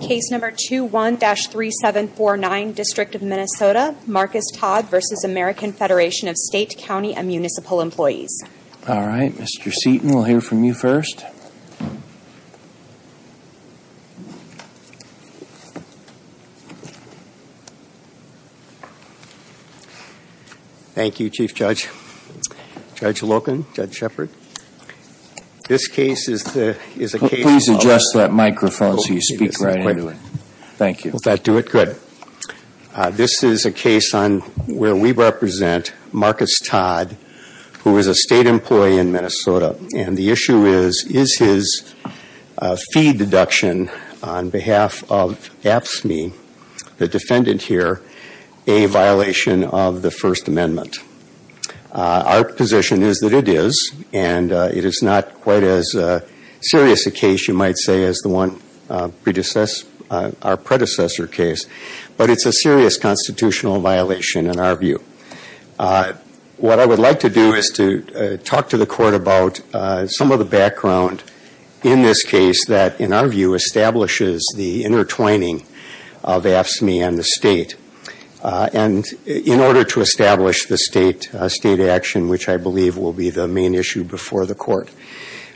Case number 21-3749, District of Minnesota, Marcus Todd v. American Federation of State, County, and Municipal Employees. All right, Mr. Seaton, we'll hear from you first. Thank you, Chief Judge. Judge Loken, Judge Shepard. This case is a case of... Please adjust that microphone so you speak right in. Thank you. Will that do it? Good. This is a case where we represent Marcus Todd, who is a state employee in Minnesota. And the issue is, is his fee deduction on behalf of AFSCME, the defendant here, a violation of the First Amendment? Our position is that it is. And it is not quite as serious a case, you might say, as the one our predecessor case. But it's a serious constitutional violation in our view. What I would like to do is to talk to the court about some of the background in this case that, in our view, establishes the intertwining of AFSCME and the state. And in order to establish the state action, which I believe will be the main issue before the court.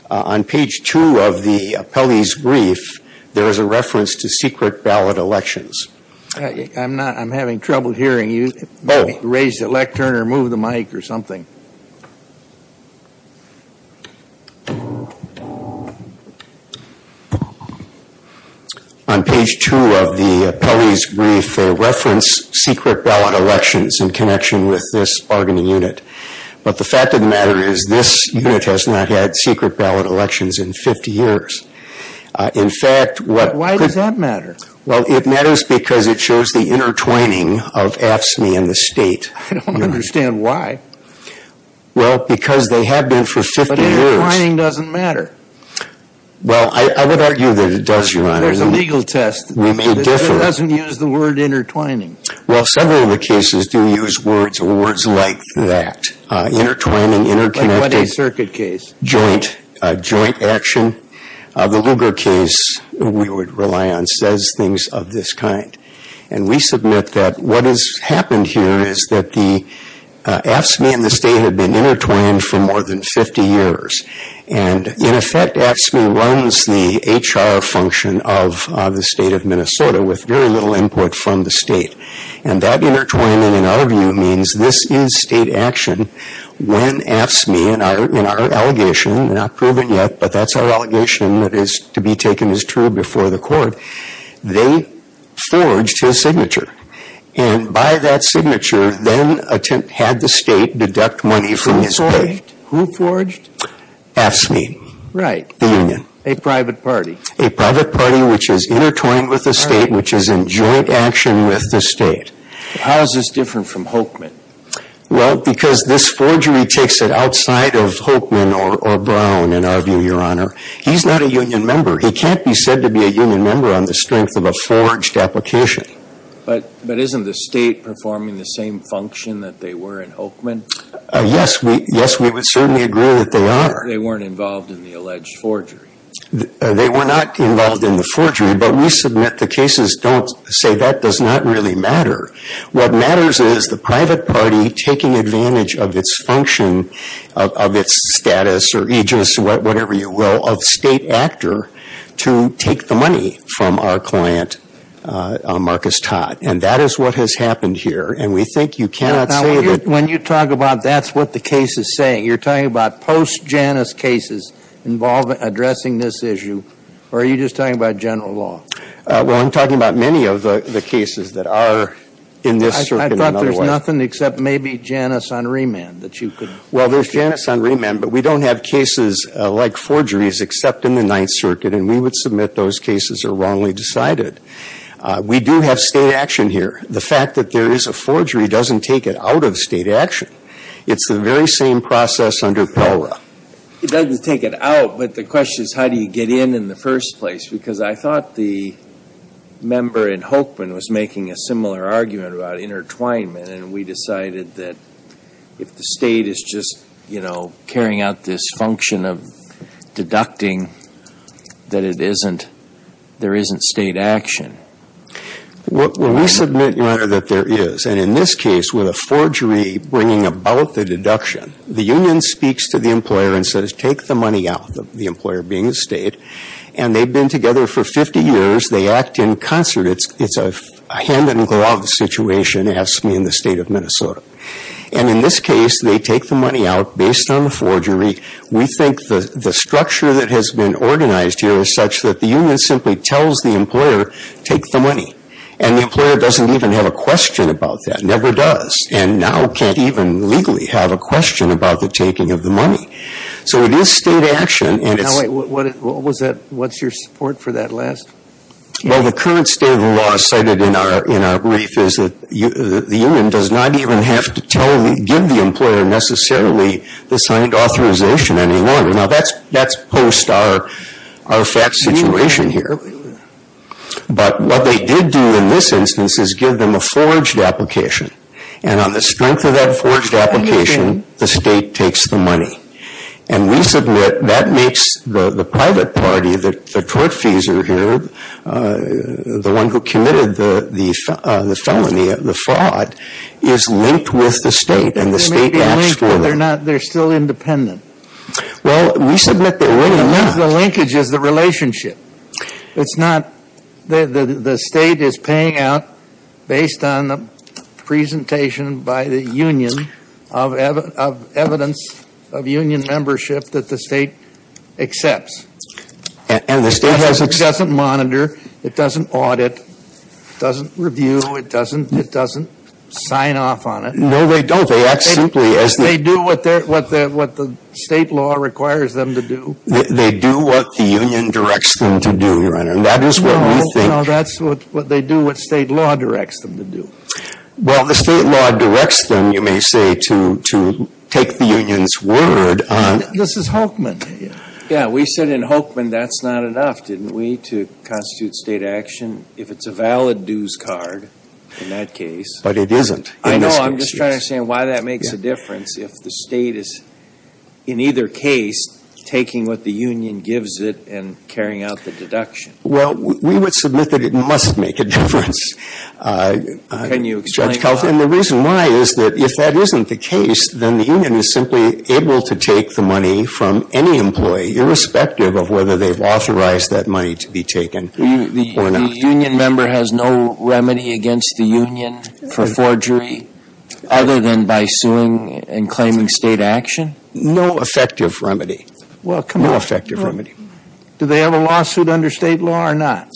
On page two of the appellee's brief, there is a reference to secret ballot elections. I'm having trouble hearing you. Raise the lectern or move the mic or something. On page two of the appellee's brief, there is a reference to secret ballot elections in connection with this bargaining unit. But the fact of the matter is, this unit has not had secret ballot elections in 50 years. In fact, what... Why does that matter? Well, it matters because it shows the intertwining of AFSCME and the state. I don't understand why. Well, because they have been for 50 years. But intertwining doesn't matter. Well, I would argue that it does, Your Honor. There's a legal test. We may differ. It doesn't use the word intertwining. Well, several of the cases do use words or words like that. Intertwining, interconnecting. What about a circuit case? Joint, joint action. The Lugar case, we would rely on, says things of this kind. And we submit that what has happened here is that the AFSCME and the state have been intertwined for more than 50 years. And, in effect, AFSCME runs the HR function of the state of Minnesota with very little input from the state. And that intertwining, in our view, means this is state action. When AFSCME, in our allegation, not proven yet, but that's our allegation that is to be taken as true before the court, they forged his signature. And by that signature, then had the state deduct money from his pay. Who forged? AFSCME. Right. The union. A private party. A private party which is intertwined with the state, which is in joint action with the state. How is this different from Hoekman? Well, because this forgery takes it outside of Hoekman or Brown, in our view, Your Honor. He's not a union member. He can't be said to be a union member on the strength of a forged application. But isn't the state performing the same function that they were in Hoekman? Yes, we would certainly agree that they are. They weren't involved in the alleged forgery. They were not involved in the forgery, but we submit the cases don't say that does not really matter. What matters is the private party taking advantage of its function, of its status or aegis, whatever you will, of state actor to take the money from our client, Marcus Todd. And that is what has happened here. And we think you cannot say that. Now, when you talk about that's what the case is saying, you're talking about post-Janus cases addressing this issue, or are you just talking about general law? Well, I'm talking about many of the cases that are in this circuit. I thought there's nothing except maybe Janus on remand that you could. Well, there's Janus on remand, but we don't have cases like forgeries except in the Ninth Circuit, and we would submit those cases are wrongly decided. We do have state action here. The fact that there is a forgery doesn't take it out of state action. It's the very same process under PELRA. It doesn't take it out, but the question is how do you get in in the first place? Because I thought the member in Hokeman was making a similar argument about intertwinement, and we decided that if the state is just, you know, carrying out this function of deducting, that it isn't, there isn't state action. Well, we submit, Your Honor, that there is. And in this case, with a forgery bringing about the deduction, the union speaks to the employer and says take the money out, the employer being the state, and they've been together for 50 years. They act in concert. It's a hand-in-glove situation, ask me, in the state of Minnesota. And in this case, they take the money out based on the forgery. We think the structure that has been organized here is such that the union simply tells the employer take the money, and the employer doesn't even have a question about that, never does, and now can't even legally have a question about the taking of the money. So it is state action. Now, wait, what was that, what's your support for that last? Well, the current state of the law cited in our brief is that the union does not even have to tell, give the employer necessarily the signed authorization any longer. Now, that's post our fact situation here. But what they did do in this instance is give them a forged application. And on the strength of that forged application, the state takes the money. And we submit that makes the private party, the tortfeasor here, the one who committed the felony, the fraud, is linked with the state and the state acts for them. They may be linked, but they're not, they're still independent. Well, we submit they really are. The link, the linkage is the relationship. It's not, the state is paying out based on the presentation by the union of evidence of union membership that the state accepts. And the state has. It doesn't monitor, it doesn't audit, it doesn't review, it doesn't sign off on it. No, they don't. They act simply as. They do what the state law requires them to do. They do what the union directs them to do, Your Honor, and that is what we think. No, that's what they do what state law directs them to do. Well, the state law directs them, you may say, to take the union's word on. This is Hokeman. Yeah, we said in Hokeman that's not enough, didn't we, to constitute state action if it's a valid dues card in that case. But it isn't. I know. I'm just trying to understand why that makes a difference if the state is, in either case, taking what the union gives it and carrying out the deduction. Well, we would submit that it must make a difference. Can you explain why? And the reason why is that if that isn't the case, then the union is simply able to take the money from any employee, irrespective of whether they've authorized that money to be taken or not. The union member has no remedy against the union for forgery other than by suing and claiming state action? No effective remedy. Well, come on. No effective remedy. Do they have a lawsuit under state law or not?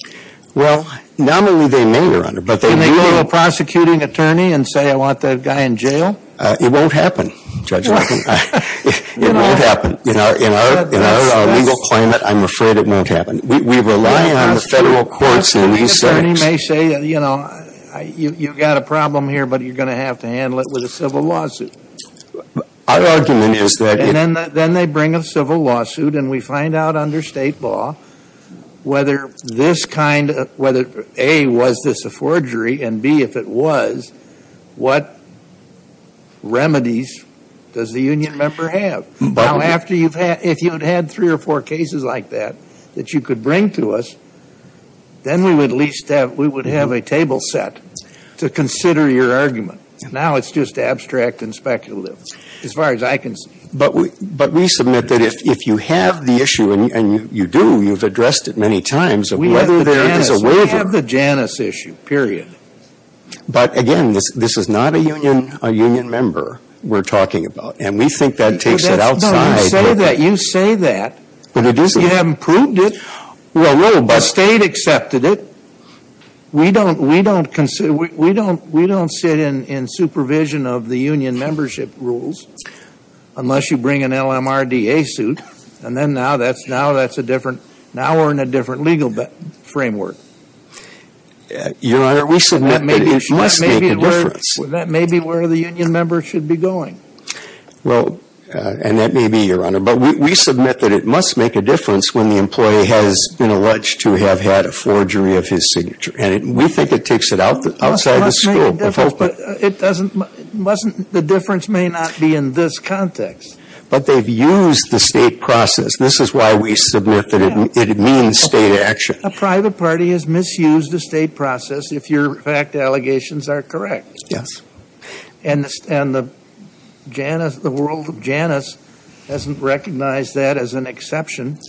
Well, nominally they may, Your Honor, but they do. Can they go to a prosecuting attorney and say, I want that guy in jail? It won't happen, Judge. It won't happen. In our legal climate, I'm afraid it won't happen. We rely on the Federal courts in these settings. The prosecuting attorney may say, you know, you've got a problem here, but you're going to have to handle it with a civil lawsuit. Our argument is that... And then they bring a civil lawsuit, and we find out under state law whether this kind of, whether, A, was this a forgery, and, B, if it was, what remedies does the union member have? Now, after you've had, if you had had three or four cases like that that you could bring to us, then we would at least have, we would have a table set to consider your argument. Now it's just abstract and speculative, as far as I can see. But we submit that if you have the issue, and you do, you've addressed it many times, of whether there is a way to... We have the Janus issue, period. But, again, this is not a union member we're talking about. And we think that takes it outside... No, you say that. You say that. But it isn't. You haven't proved it. Well, a little bit. A state accepted it. We don't consider, we don't sit in supervision of the union membership rules unless you bring an LMRDA suit. And then now that's a different, now we're in a different legal framework. Your Honor, we submit that it must make a difference. That may be where the union member should be going. Well, and that may be, Your Honor. But we submit that it must make a difference when the employee has been alleged to have had a forgery of his signature. And we think it takes it outside the school. It must make a difference, but it doesn't, mustn't, the difference may not be in this context. But they've used the state process. This is why we submit that it means state action. A private party has misused the state process if your fact allegations are correct. Yes. And the world of Janus hasn't recognized that as an exception.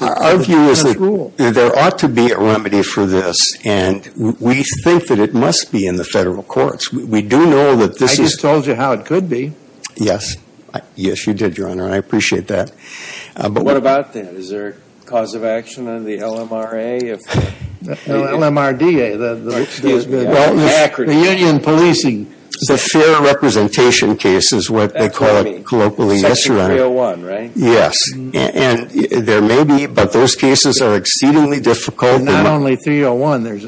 Our view is that there ought to be a remedy for this. And we think that it must be in the federal courts. We do know that this is. I just told you how it could be. Yes. Yes, you did, Your Honor. I appreciate that. But what about that? Is there a cause of action under the LMRDA? LMRDA. Excuse me. Well, the union policing. The fair representation case is what they call it colloquially. Section 301, right? Yes. And there may be, but those cases are exceedingly difficult. And not only 301. Yes,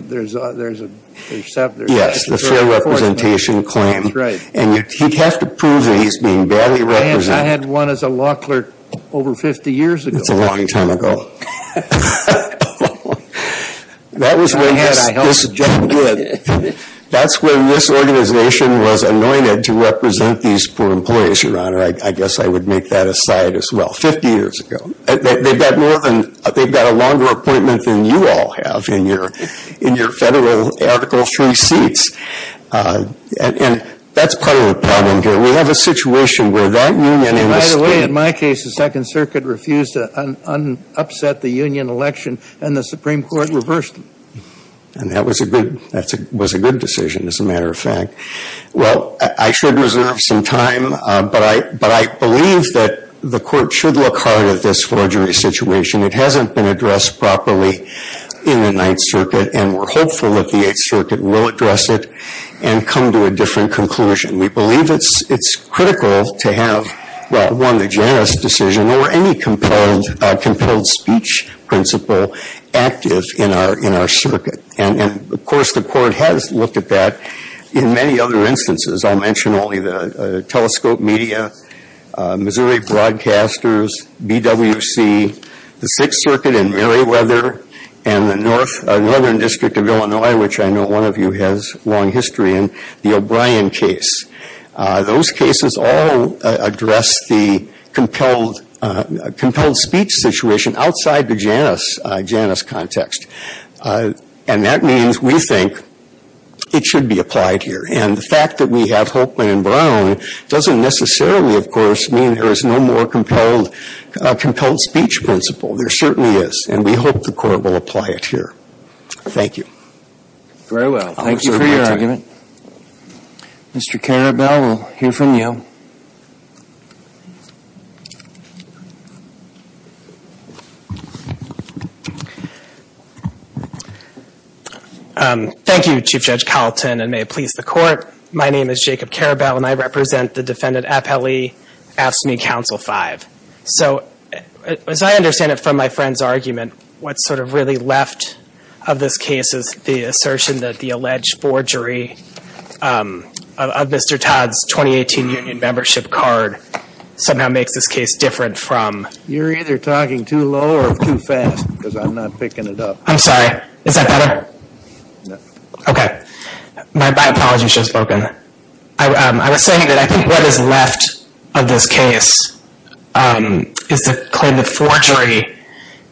the fair representation claim. That's right. And you'd have to prove that he's being badly represented. I had one as a law clerk over 50 years ago. That's a long time ago. That's when this organization was anointed to represent these poor employees, Your Honor. I guess I would make that aside as well. 50 years ago. They've got a longer appointment than you all have in your federal article 3 seats. And that's part of the problem here. We have a situation where that union. By the way, in my case, the Second Circuit refused to upset the union election. And the Supreme Court reversed it. And that was a good decision, as a matter of fact. Well, I should reserve some time. But I believe that the court should look hard at this forgery situation. It hasn't been addressed properly in the Ninth Circuit. And we're hopeful that the Eighth Circuit will address it and come to a different conclusion. We believe it's critical to have won the Janus decision or any compelled speech principle active in our circuit. And, of course, the court has looked at that in many other instances. I'll mention only the Telescope Media, Missouri Broadcasters, BWC, the Sixth Circuit in Merriweather, and the Northern District of Illinois, which I know one of you has long history in, the O'Brien case. Those cases all address the compelled speech situation outside the Janus context. And that means we think it should be applied here. And the fact that we have Hoekman and Brown doesn't necessarily, of course, mean there is no more compelled speech principle. There certainly is. And we hope the court will apply it here. Thank you. Very well. Thank you for your argument. Mr. Karabell, we'll hear from you. Thank you, Chief Judge Carlton, and may it please the Court. My name is Jacob Karabell, and I represent the defendant, Appelli, AFSCME Council 5. So as I understand it from my friend's argument, what's sort of really left of this case is the assertion that the alleged forgery of Mr. Todd's 2018 union membership card somehow makes this case different from. You're either talking too low or too fast because I'm not picking it up. I'm sorry. Is that better? No. Okay. My apology should have spoken. I was saying that I think what is left of this case is the claim that forgery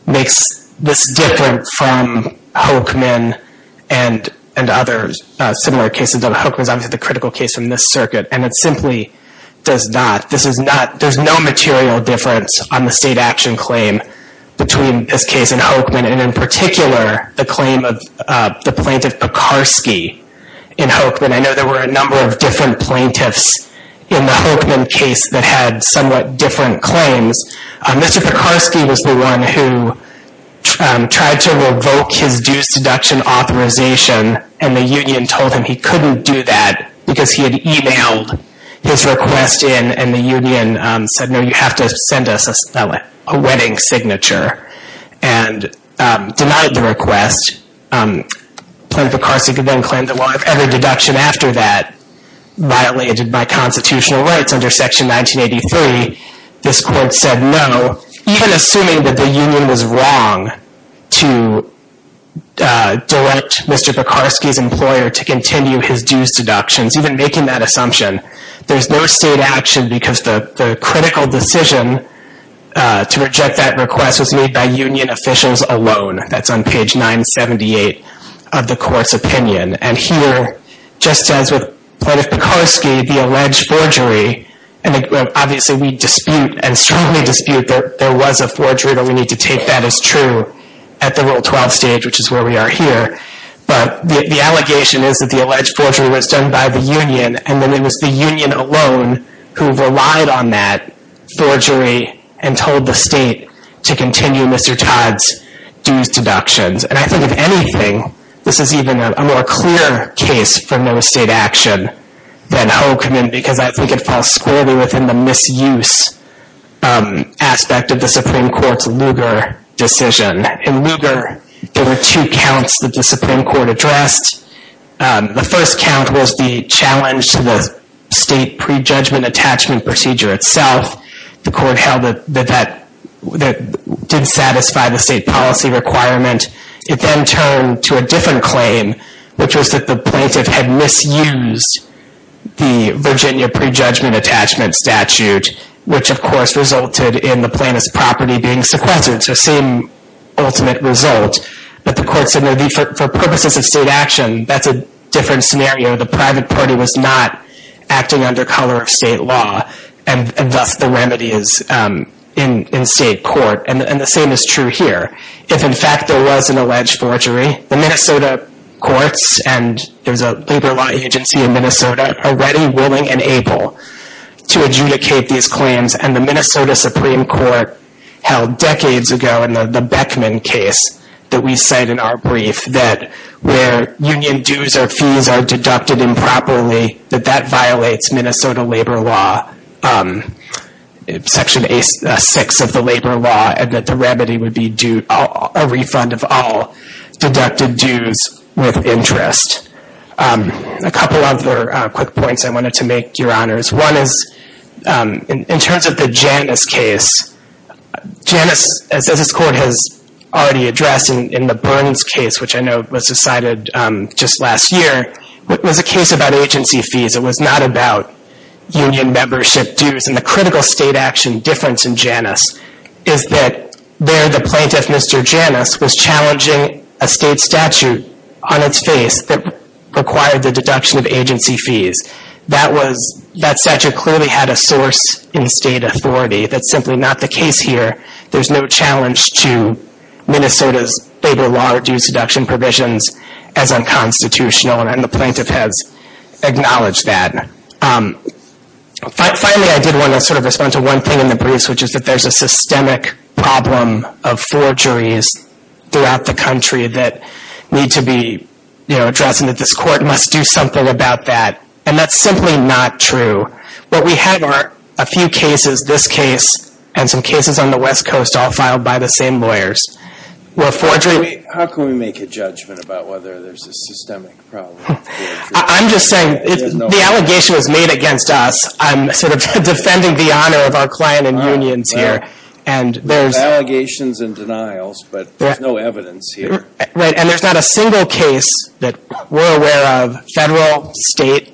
makes this different from Hoekman and other similar cases. Hoekman is obviously the critical case in this circuit, and it simply does not. There's no material difference on the state action claim between this case and Hoekman, and in particular the claim of the plaintiff Pekarsky in Hoekman. I know there were a number of different plaintiffs in the Hoekman case that had somewhat different claims. Mr. Pekarsky was the one who tried to revoke his due seduction authorization, and the union told him he couldn't do that because he had emailed his request in, and the union said, no, you have to send us a wedding signature and denied the request. Plaintiff Pekarsky could then claim that, well, if every deduction after that violated my constitutional rights under Section 1983, this court said no, even assuming that the union was wrong to direct Mr. Pekarsky's employer to continue his dues deductions, even making that assumption. There's no state action because the critical decision to reject that request was made by union officials alone. That's on page 978 of the court's opinion, and here, just as with Plaintiff Pekarsky, the alleged forgery, and obviously we dispute and strongly dispute that there was a forgery, and we need to take that as true at the Rule 12 stage, which is where we are here, but the allegation is that the alleged forgery was done by the union, and then it was the union alone who relied on that forgery and told the state to continue Mr. Todd's dues deductions. And I think, if anything, this is even a more clear case for no state action than Hoekman, because I think it falls squarely within the misuse aspect of the Supreme Court's Lugar decision. In Lugar, there were two counts that the Supreme Court addressed. The first count was the challenge to the state prejudgment attachment procedure itself. The court held that that didn't satisfy the state policy requirement. It then turned to a different claim, which was that the plaintiff had misused the Virginia prejudgment attachment statute, which, of course, resulted in the plaintiff's property being sequestered, so same ultimate result. But the court said, no, for purposes of state action, that's a different scenario. The private party was not acting under color of state law, and thus the remedy is in state court. And the same is true here. If, in fact, there was an alleged forgery, the Minnesota courts, and there's a labor law agency in Minnesota already willing and able to adjudicate these claims, and the Minnesota Supreme Court held decades ago in the Beckman case that we cite in our brief that where union dues or fees are deducted improperly, that that violates Minnesota labor law, Section 6 of the labor law, and that the remedy would be a refund of all deducted dues with interest. A couple other quick points I wanted to make, Your Honors. One is in terms of the Janus case, Janus, as this court has already addressed in the Burns case, which I know was decided just last year, was a case about agency fees. It was not about union membership dues. And the critical state action difference in Janus is that there the plaintiff, Mr. Janus, was challenging a state statute on its face that required the deduction of agency fees. That statute clearly had a source in state authority. That's simply not the case here. There's no challenge to Minnesota's labor law or due seduction provisions as unconstitutional, and the plaintiff has acknowledged that. Finally, I did want to sort of respond to one thing in the briefs, which is that there's a systemic problem of forgeries throughout the country that need to be addressed, and that this court must do something about that. And that's simply not true. What we have are a few cases, this case and some cases on the West Coast, all filed by the same lawyers. How can we make a judgment about whether there's a systemic problem? I'm just saying the allegation was made against us. I'm sort of defending the honor of our client and unions here. There's allegations and denials, but there's no evidence here. And there's not a single case that we're aware of, federal, state,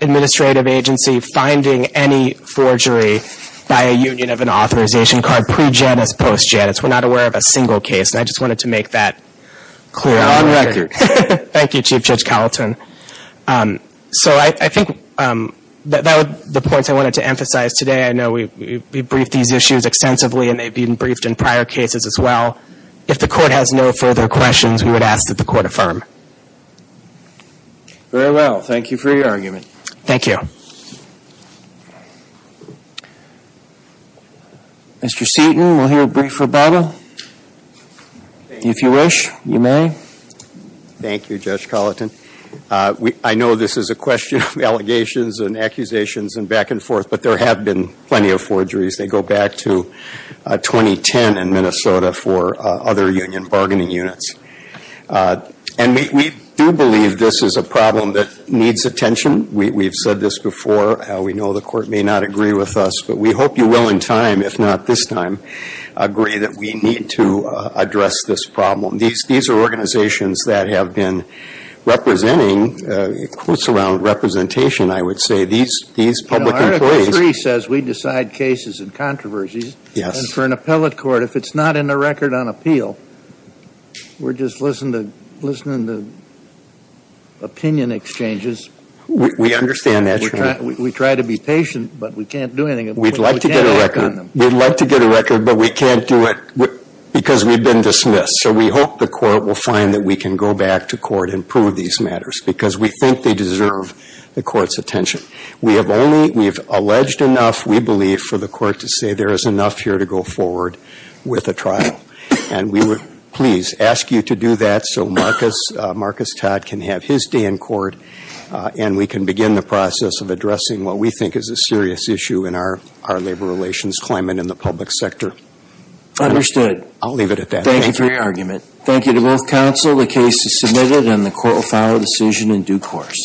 administrative agency, finding any forgery by a union of an authorization card pre-judice, post-judice. We're not aware of a single case, and I just wanted to make that clear. On record. Thank you, Chief Judge Carlton. So I think that was the points I wanted to emphasize today. I know we briefed these issues extensively, and they've been briefed in prior cases as well. If the Court has no further questions, we would ask that the Court affirm. Very well. Thank you for your argument. Thank you. Mr. Seaton, we'll hear a brief rebuttal. If you wish, you may. Thank you, Judge Carlton. I know this is a question of allegations and accusations and back and forth, but there have been plenty of forgeries. They go back to 2010 in Minnesota for other union bargaining units. And we do believe this is a problem that needs attention. We've said this before. We know the Court may not agree with us, but we hope you will in time, if not this time, agree that we need to address this problem. These are organizations that have been representing, quotes around representation, I would say, these public employees. Section 3 says we decide cases and controversies. And for an appellate court, if it's not in the record on appeal, we're just listening to opinion exchanges. We understand that. We try to be patient, but we can't do anything. We'd like to get a record, but we can't do it because we've been dismissed. So we hope the Court will find that we can go back to Court and prove these matters, because we think they deserve the Court's attention. We have only, we've alleged enough, we believe, for the Court to say there is enough here to go forward with a trial. And we would please ask you to do that so Marcus Todd can have his day in Court and we can begin the process of addressing what we think is a serious issue in our labor relations climate in the public sector. Understood. I'll leave it at that. Thank you for your argument. Thank you to both counsel. The case is submitted and the Court will file a decision in due course.